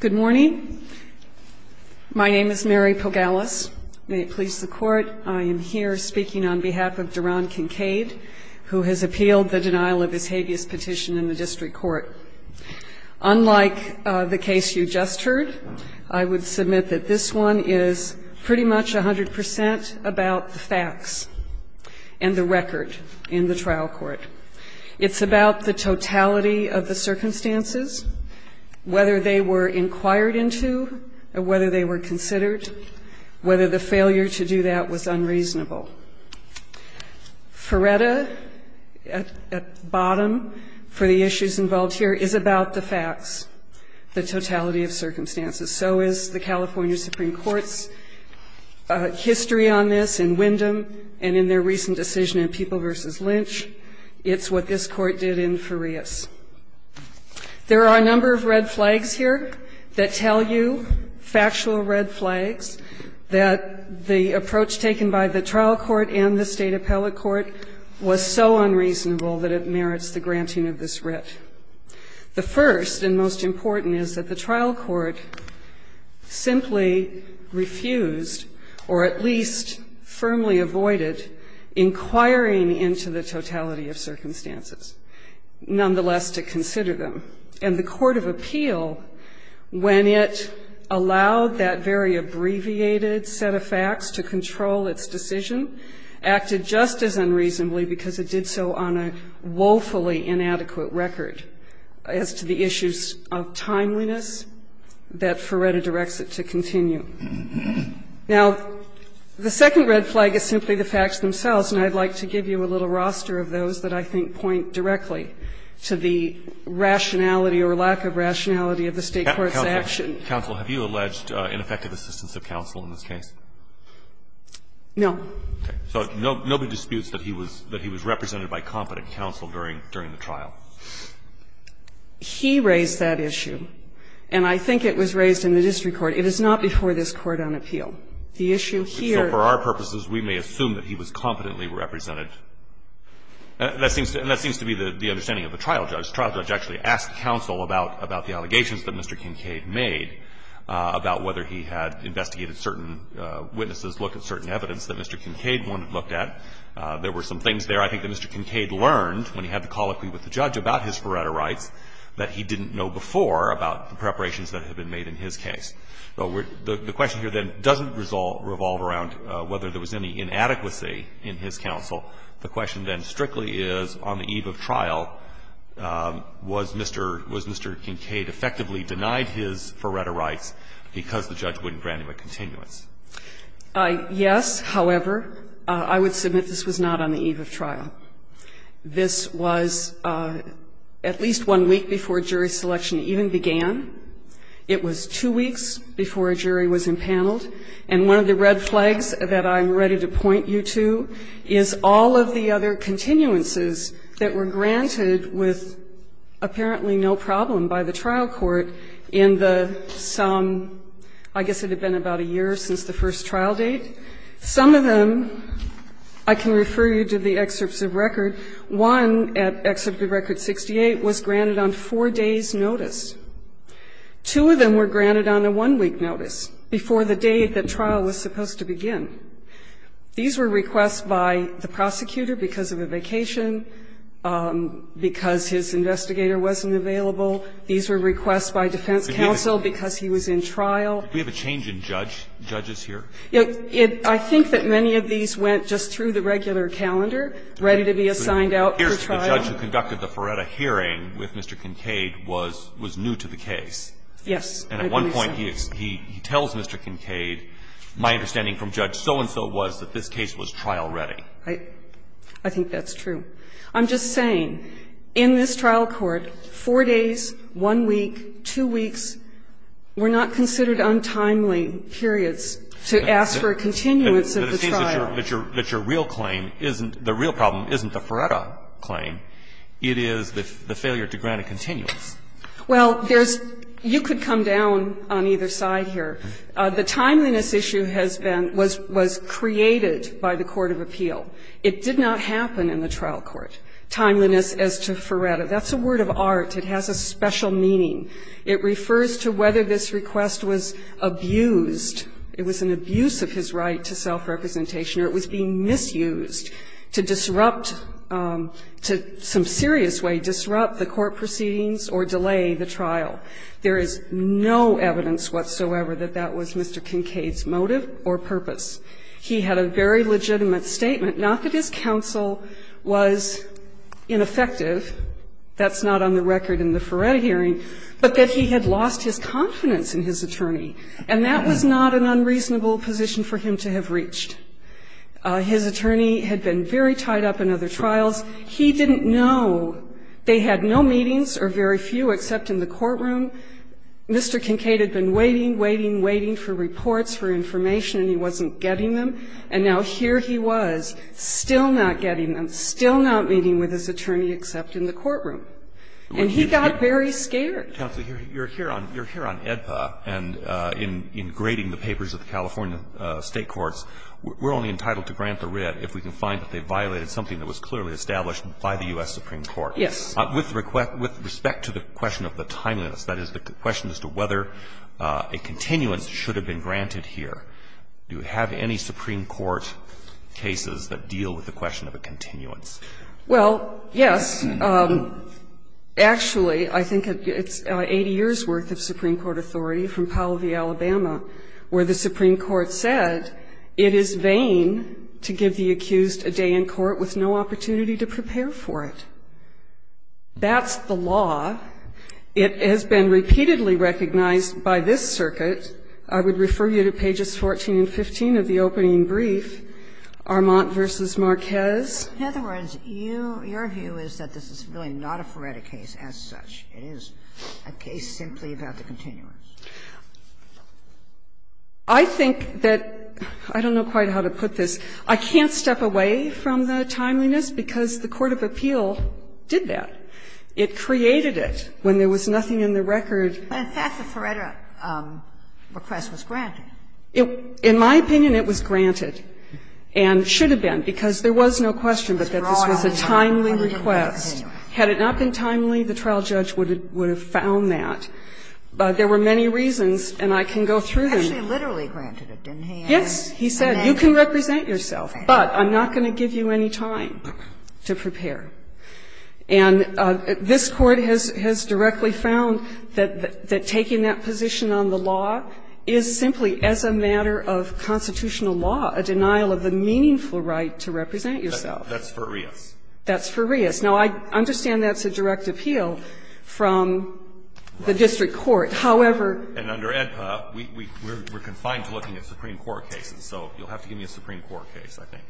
Good morning. My name is Mary Pogalis. May it please the Court, I am here speaking on behalf of Duron Kincaid, who has appealed the denial of his habeas petition in the District Court. Unlike the case you just heard, I would submit that this one is pretty much 100 percent about the facts and the record in the trial court. It's about the totality of the circumstances, whether they were inquired into, whether they were considered, whether the failure to do that was unreasonable. Ferretta, at bottom, for the issues involved here, is about the facts, the totality of circumstances. So is the California Supreme Court's history on this in Wyndham and in their recent decision in People v. Lynch. It's what this Court did in Farias. There are a number of red flags here that tell you, factual red flags, that the approach taken by the trial court and the State appellate court was so unreasonable that it merits the granting of this writ. The first and most important is that the trial court simply refused, or at least firmly avoided, inquiring into the totality of circumstances, nonetheless, to consider them. And the court of appeal, when it allowed that very abbreviated set of facts to control its decision, acted just as unreasonably because it did so on a woefully inadequate record as to the issues of timeliness that Ferretta directs it to continue. Now, the I think point directly to the rationality or lack of rationality of the State court's action. Roberts. Counsel, have you alleged ineffective assistance of counsel in this case? Ferretta. No. Roberts. Okay. So nobody disputes that he was represented by competent counsel during the trial. Ferretta. He raised that issue, and I think it was raised in the district court. It is not before this Court on appeal. The issue here was that he was competently represented. And that seems to be the understanding of the trial judge. The trial judge actually asked counsel about the allegations that Mr. Kincaid made, about whether he had investigated certain witnesses, looked at certain evidence that Mr. Kincaid wouldn't have looked at. There were some things there I think that Mr. Kincaid learned when he had the colloquy with the judge about his Ferretta rights that he didn't know before about the preparations that have been made in his case. The question here, then, doesn't revolve around whether there was any inadequacy in his counsel. The question, then, strictly is, on the eve of trial, was Mr. Kincaid effectively denied his Ferretta rights because the judge wouldn't grant him a continuance? Yes. This was at least one week before jury selection even began. It was two weeks before a jury was empaneled. And one of the red flags that I'm ready to point you to is all of the other continuances that were granted with apparently no problem by the trial court in the sum, I guess it had been about a year since the first trial date. Some of them, I can refer you to the excerpts of record. One, at excerpt of record 68, was granted on four days' notice. Two of them were granted on a one-week notice before the day that trial was supposed to begin. These were requests by the prosecutor because of a vacation, because his investigator wasn't available. These were requests by defense counsel because he was in trial. Do we have a change in judge? Judges here? I think that many of these went just through the regular calendar, ready to be assigned out for trial. It appears that the judge who conducted the Ferretta hearing with Mr. Kincaid was new to the case. Yes. And at one point he tells Mr. Kincaid, my understanding from Judge so-and-so was that this case was trial ready. I think that's true. I'm just saying, in this trial court, four days, one week, two weeks, were not considered untimely periods to ask for a continuance of the trial. But it seems that your real claim isn't the Ferretta claim. It is the failure to grant a continuance. Well, there's you could come down on either side here. The timeliness issue has been was created by the court of appeal. It did not happen in the trial court, timeliness as to Ferretta. That's a word of art. It has a special meaning. It refers to whether this request was abused. It was an abuse of his right to self-representation or it was being misused to disrupt, to some serious way disrupt the court proceedings or delay the trial. There is no evidence whatsoever that that was Mr. Kincaid's motive or purpose. He had a very legitimate statement, not that his counsel was in effective, that's not on the record in the Ferretta hearing, but that he had lost his confidence in his attorney. And that was not an unreasonable position for him to have reached. His attorney had been very tied up in other trials. He didn't know. They had no meetings or very few except in the courtroom. Mr. Kincaid had been waiting, waiting, waiting for reports, for information, and he wasn't getting them. And now here he was, still not getting them, still not meeting with his attorney except in the courtroom. And he got very scared. Roberts. Counsel, you're here on EDPA and in grading the papers of the California State Courts, we're only entitled to grant the writ if we can find that they violated something that was clearly established by the U.S. Supreme Court. Yes. With respect to the question of the timeliness, that is, the question as to whether a continuance should have been granted here, do you have any Supreme Court cases that deal with the question of a continuance? Well, yes. Actually, I think it's 80 years' worth of Supreme Court authority from Powell v. Alabama, where the Supreme Court said it is vain to give the accused a day in court with no opportunity to prepare for it. That's the law. It has been repeatedly recognized by this circuit. I would refer you to pages 14 and 15 of the opening brief, Armand v. Marquez. In other words, you – your view is that this is really not a Feretta case as such. It is a case simply about the continuance. I think that – I don't know quite how to put this. I can't step away from the timeliness because the court of appeal did that. It created it when there was nothing in the record. But in fact, the Feretta request was granted. In my opinion, it was granted and should have been, because there was no question that this was a timely request. Had it not been timely, the trial judge would have found that. But there were many reasons, and I can go through them. Yes, he said you can represent yourself, but I'm not going to give you any time to prepare. And this Court has directly found that taking that position on the law is simply as a matter of constitutional law, a denial of the meaningful right to represent yourself. That's Ferias. That's Ferias. Now, I understand that's a direct appeal from the district court. However – And under AEDPA, we're confined to looking at Supreme Court cases, so you'll have to give me a Supreme Court case, I think.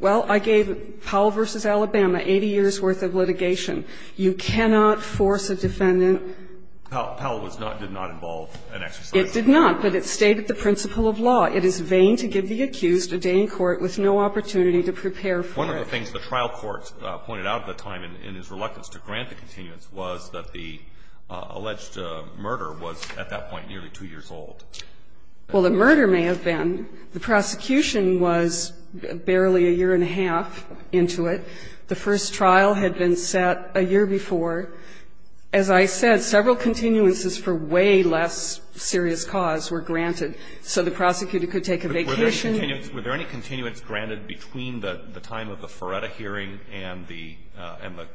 Well, I gave Powell v. Alabama 80 years' worth of litigation. You cannot force a defendant – Powell was not – did not involve an exercise. Did not, but it stayed at the principle of law. It is vain to give the accused a day in court with no opportunity to prepare for it. One of the things the trial court pointed out at the time in his reluctance to grant the continuance was that the alleged murder was, at that point, nearly 2 years old. Well, the murder may have been. The prosecution was barely a year and a half into it. The first trial had been set a year before. As I said, several continuances for way less serious cause were granted, so the prosecutor could take a vacation. Were there any continuance granted between the time of the Feretta hearing and the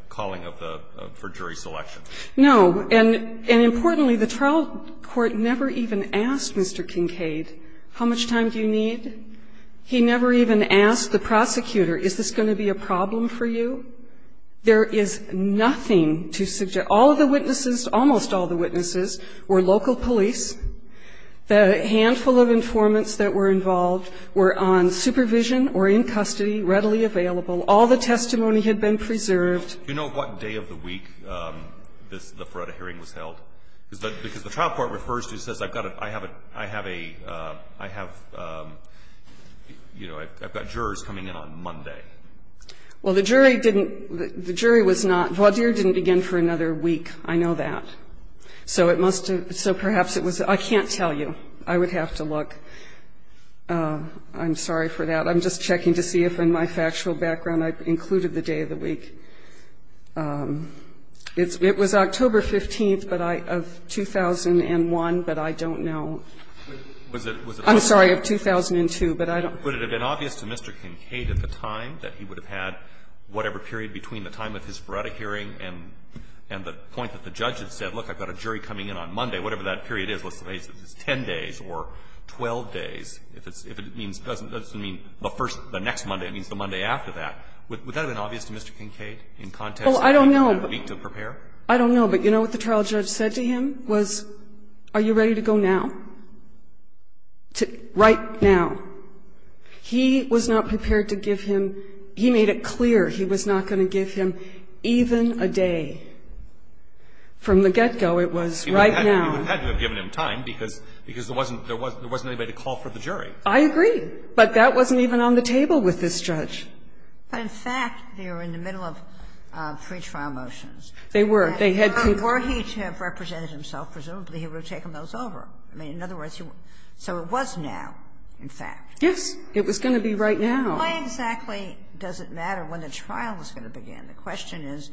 calling of the – for jury selection? No. And importantly, the trial court never even asked Mr. Kincaid, how much time do you need? He never even asked the prosecutor, is this going to be a problem for you? There is nothing to suggest – all of the witnesses, almost all of the witnesses were local police. The handful of informants that were involved were on supervision or in custody, readily available. All the testimony had been preserved. Do you know what day of the week this – the Feretta hearing was held? Because the trial court refers to it, it says, I've got a – I have a – I have a – you know, I've got jurors coming in on Monday. Well, the jury didn't – the jury was not – Vaudier didn't begin for another week, I know that. So it must have – so perhaps it was – I can't tell you. I would have to look. I'm sorry for that. I'm just checking to see if in my factual background I've included the day of the week. It's – it was October 15th, but I – of 2001, but I don't know. I'm sorry, of 2002, but I don't know. Would it have been obvious to Mr. Kincaid at the time that he would have had whatever period between the time of his Feretta hearing and the point that the judge had said, look, I've got a jury coming in on Monday, whatever that period is, let's say it's 10 days or 12 days, if it's – if it means – doesn't mean the first – the next Monday, it means the Monday after that. Would that have been obvious to Mr. Kincaid in context of the week to prepare? I don't know, but you know what the trial judge said to him was, are you ready to go right now, to – right now? He was not prepared to give him – he made it clear he was not going to give him even a day. From the get-go, it was right now. He would have had to have given him time, because there wasn't anybody to call for the jury. I agree, but that wasn't even on the table with this judge. But, in fact, they were in the middle of pretrial motions. They were. They had to have represented himself, presumably he would have taken those over. I mean, in other words, you – so it was now, in fact. Yes. It was going to be right now. Why exactly does it matter when the trial is going to begin? The question is,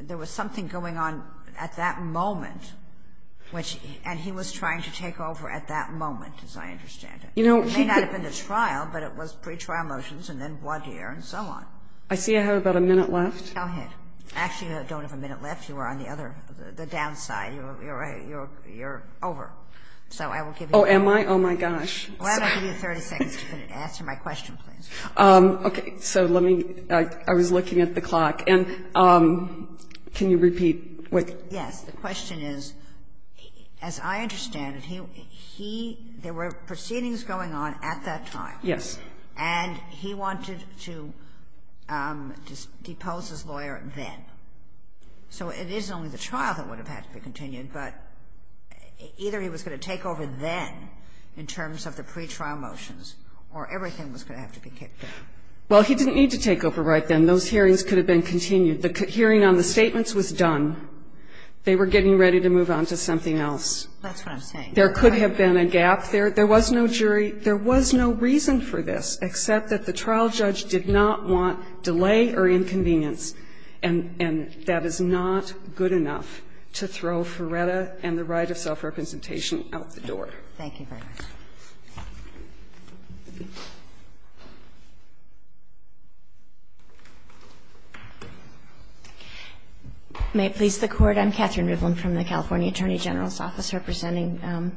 there was something going on at that moment, which – and he was trying to take over at that moment, as I understand it. You know, he could – It may not have been a trial, but it was pretrial motions and then voir dire and so on. I see I have about a minute left. Go ahead. Actually, you don't have a minute left. You are on the other – the downside. You're over. So I will give you a minute. Oh, am I? Oh, my gosh. Why don't I give you 30 seconds to answer my question, please? Okay. So let me – I was looking at the clock. And can you repeat what? Yes. The question is, as I understand it, he – there were proceedings going on at that time. Yes. And he wanted to depose his lawyer then. So it is only the trial that would have had to be continued, but either he was going to take over then in terms of the pretrial motions or everything was going to have to be kicked out. Well, he didn't need to take over right then. Those hearings could have been continued. The hearing on the statements was done. They were getting ready to move on to something else. That's what I'm saying. There could have been a gap there. There was no jury. There was no reason for this except that the trial judge did not want delay or inconvenience. And that is not good enough to throw Ferretta and the right of self-representation out the door. Thank you very much. May it please the Court. I'm Catherine Rivlin from the California Attorney General's Office representing the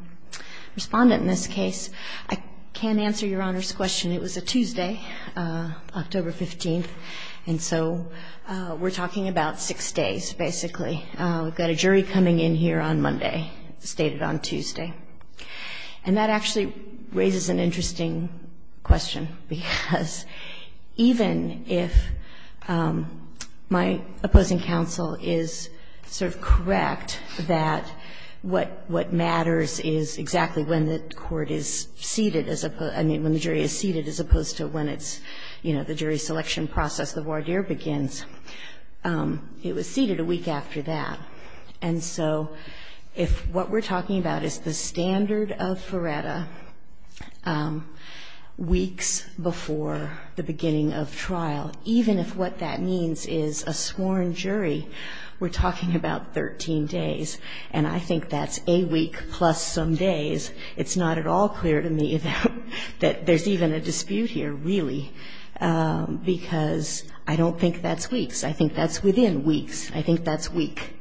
Respondent in this case. I can answer Your Honor's question. It was a Tuesday, October 15th. And so we're talking about six days, basically. We've got a jury coming in here on Monday, as stated on Tuesday. And that actually raises an interesting question, because even if my opposing counsel is sort of correct that what matters is exactly when the court is seated as opposed to, I mean, when the jury is seated as opposed to when it's, you know, the jury selection process, the voir dire, begins, it was seated a week after that. And so if what we're talking about is the standard of Ferretta weeks before the beginning of trial, even if what that means is a sworn jury, we're talking about 13 days. And I think that's a week plus some days. It's not at all clear to me that there's even a dispute here, really. Because I don't think that's weeks. I think that's within weeks. I think that's week.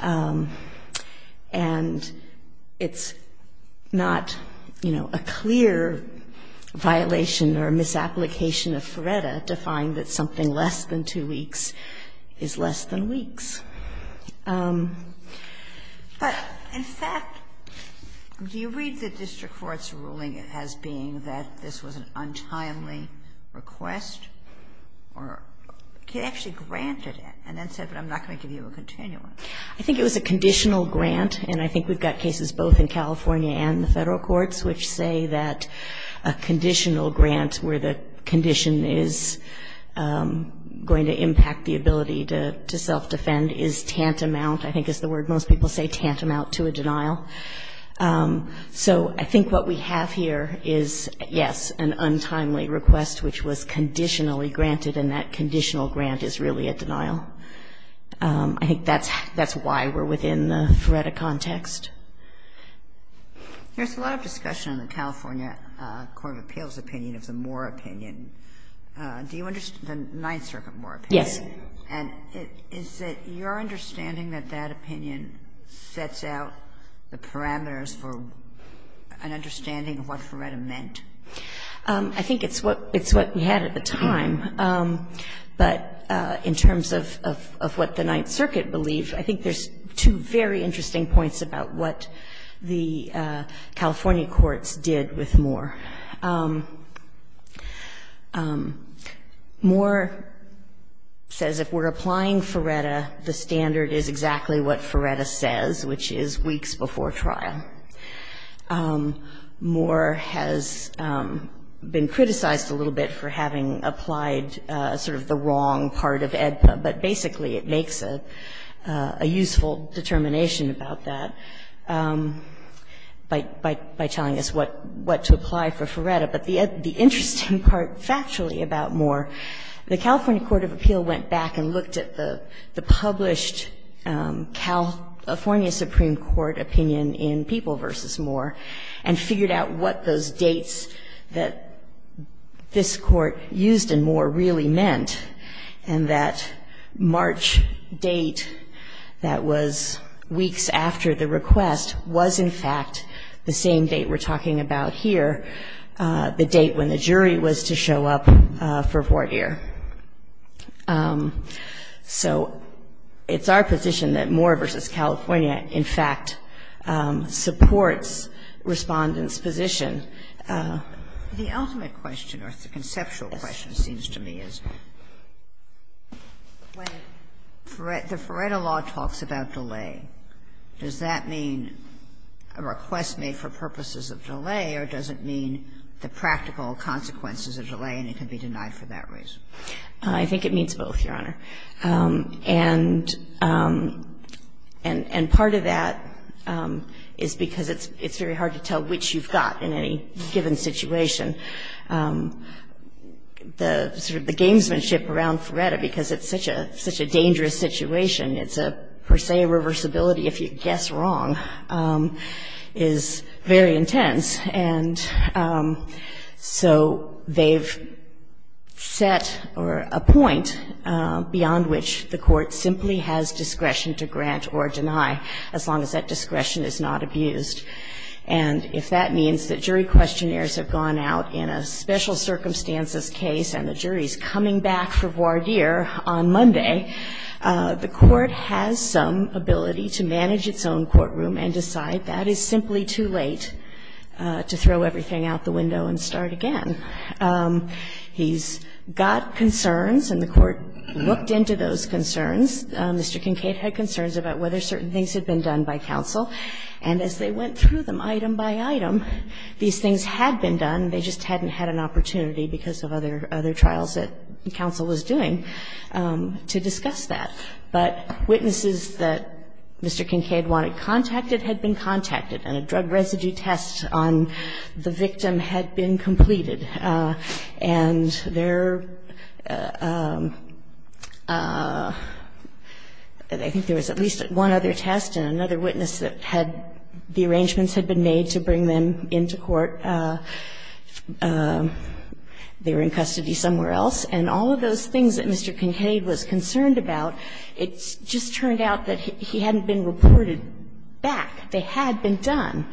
And it's not, you know, a clear violation or misapplication of Ferretta to find that something less than two weeks is less than weeks. But, in fact, do you read the district court's ruling as being that this was an untimely request, or it actually granted it, and then said, but I'm not going to give you a continuum? I think it was a conditional grant. And I think we've got cases both in California and the Federal courts which say that a conditional grant where the condition is going to impact the ability to self-defend is tantamount, I think is the word most people say, tantamount to a denial. So I think what we have here is, yes, an untimely request which was conditionally granted, and that conditional grant is really a denial. I think that's why we're within the Ferretta context. There's a lot of discussion in the California Court of Appeals opinion of the Moore opinion. Yes. And is it your understanding that that opinion sets out the parameters for an understanding of what Ferretta meant? I think it's what we had at the time. But in terms of what the Ninth Circuit believed, I think there's two very interesting points about what the California courts did with Moore. Moore says if we're applying Ferretta, the standard is exactly what Ferretta says, which is weeks before trial. Moore has been criticized a little bit for having applied sort of the wrong part of AEDPA, but basically it makes a useful determination about that by telling us what to apply for Ferretta. But the interesting part, factually, about Moore, the California Court of Appeals went back and looked at the published California Supreme Court opinion in People v. Moore and figured out what those dates that this Court used in Moore really meant and that March date that was weeks after the request was in fact the same date we're talking about here, the date when the jury was to show up for voir dire. So it's our position that Moore v. California, in fact, supports Respondent's position. The ultimate question or the conceptual question, it seems to me, is when the Ferretta law talks about delay, does that mean a request made for purposes of delay or does it mean the practical consequences of delay and it can be denied for that reason? I think it means both, Your Honor. And part of that is because it's very hard to tell which you've got in any given situation. The gamesmanship around Ferretta, because it's such a dangerous situation, it's a per se reversibility if you guess wrong, is very intense. And so they've set a point beyond which the court simply has discretion to grant or deny as long as that discretion is not abused. And if that means that jury questionnaires have gone out in a special circumstances case and the jury's coming back for voir dire on Monday, the court has some ability to manage its own courtroom and decide that is simply too late to throw everything out the window and start again. He's got concerns, and the court looked into those concerns. Mr. Kincaid had concerns about whether certain things had been done by counsel. And as they went through them item by item, these things had been done, they just hadn't had an opportunity because of other trials that counsel was doing to discuss that. But witnesses that Mr. Kincaid wanted contacted had been contacted, and a drug residue test on the victim had been completed. And there, I think there was at least one other test and another witness that had been contacted. And they were in custody somewhere else, and all of those things that Mr. Kincaid was concerned about, it just turned out that he hadn't been reported back. They had been done.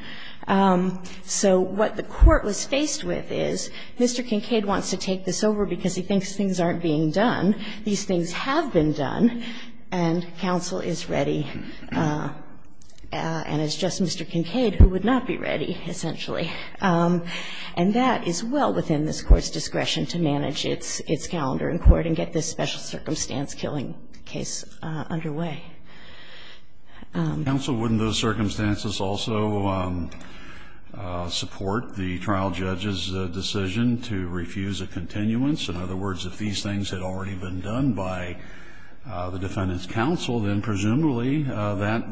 So what the court was faced with is Mr. Kincaid wants to take this over because he thinks things aren't being done, these things have been done, and counsel is ready, and it's just Mr. Kincaid who would not be ready, essentially. And that is well within this Court's discretion to manage its calendar in court and get this special circumstance killing case underway. Kennedy. Counsel, wouldn't those circumstances also support the trial judge's decision to refuse a continuance? In other words, if these things had already been done by the defendant's counsel, then presumably that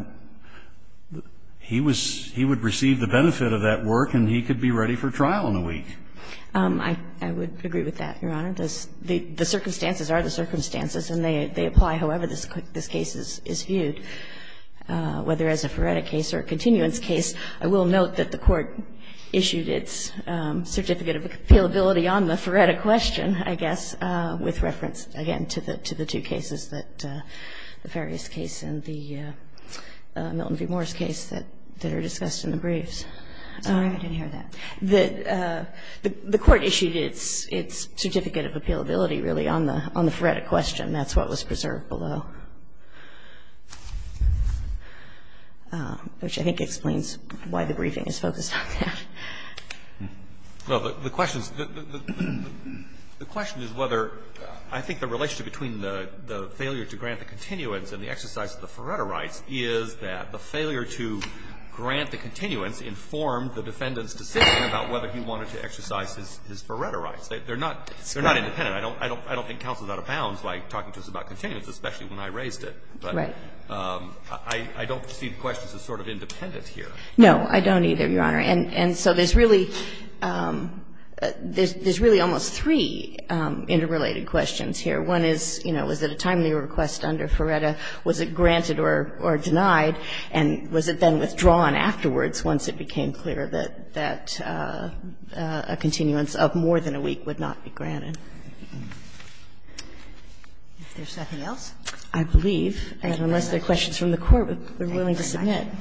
he was he would receive the benefit of that work and he could be ready for trial in a week. I would agree with that, Your Honor. The circumstances are the circumstances, and they apply however this case is viewed, whether as a forensic case or a continuance case. I will note that the Court issued its certificate of appealability on the forensic question, I guess, with reference, again, to the two cases, the Farias case and the Milton v. Moore's case that are discussed in the briefs. I'm sorry. I didn't hear that. The Court issued its certificate of appealability really on the forensic question. That's what was preserved below, which I think explains why the briefing is focused on that. Well, the question is whether, I think the relationship between the failure to grant the continuance and the exercise of the Feretta rights is that the failure to grant the continuance informed the defendant's decision about whether he wanted to exercise his Feretta rights. They're not independent. I don't think counsel is out of bounds by talking to us about continuance, especially when I raised it. Right. I don't see the question as sort of independent here. No, I don't either, Your Honor. And so there's really almost three interrelated questions here. One is, you know, was it a timely request under Feretta? Was it granted or denied? And was it then withdrawn afterwards once it became clear that a continuance of more than a week would not be granted? Is there something else? I believe, unless there are questions from the Court, we're willing to submit. Thank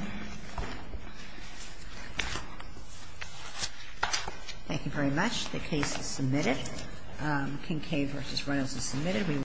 you. Thank you very much. The case is submitted. Kincaid v. Reynolds is submitted.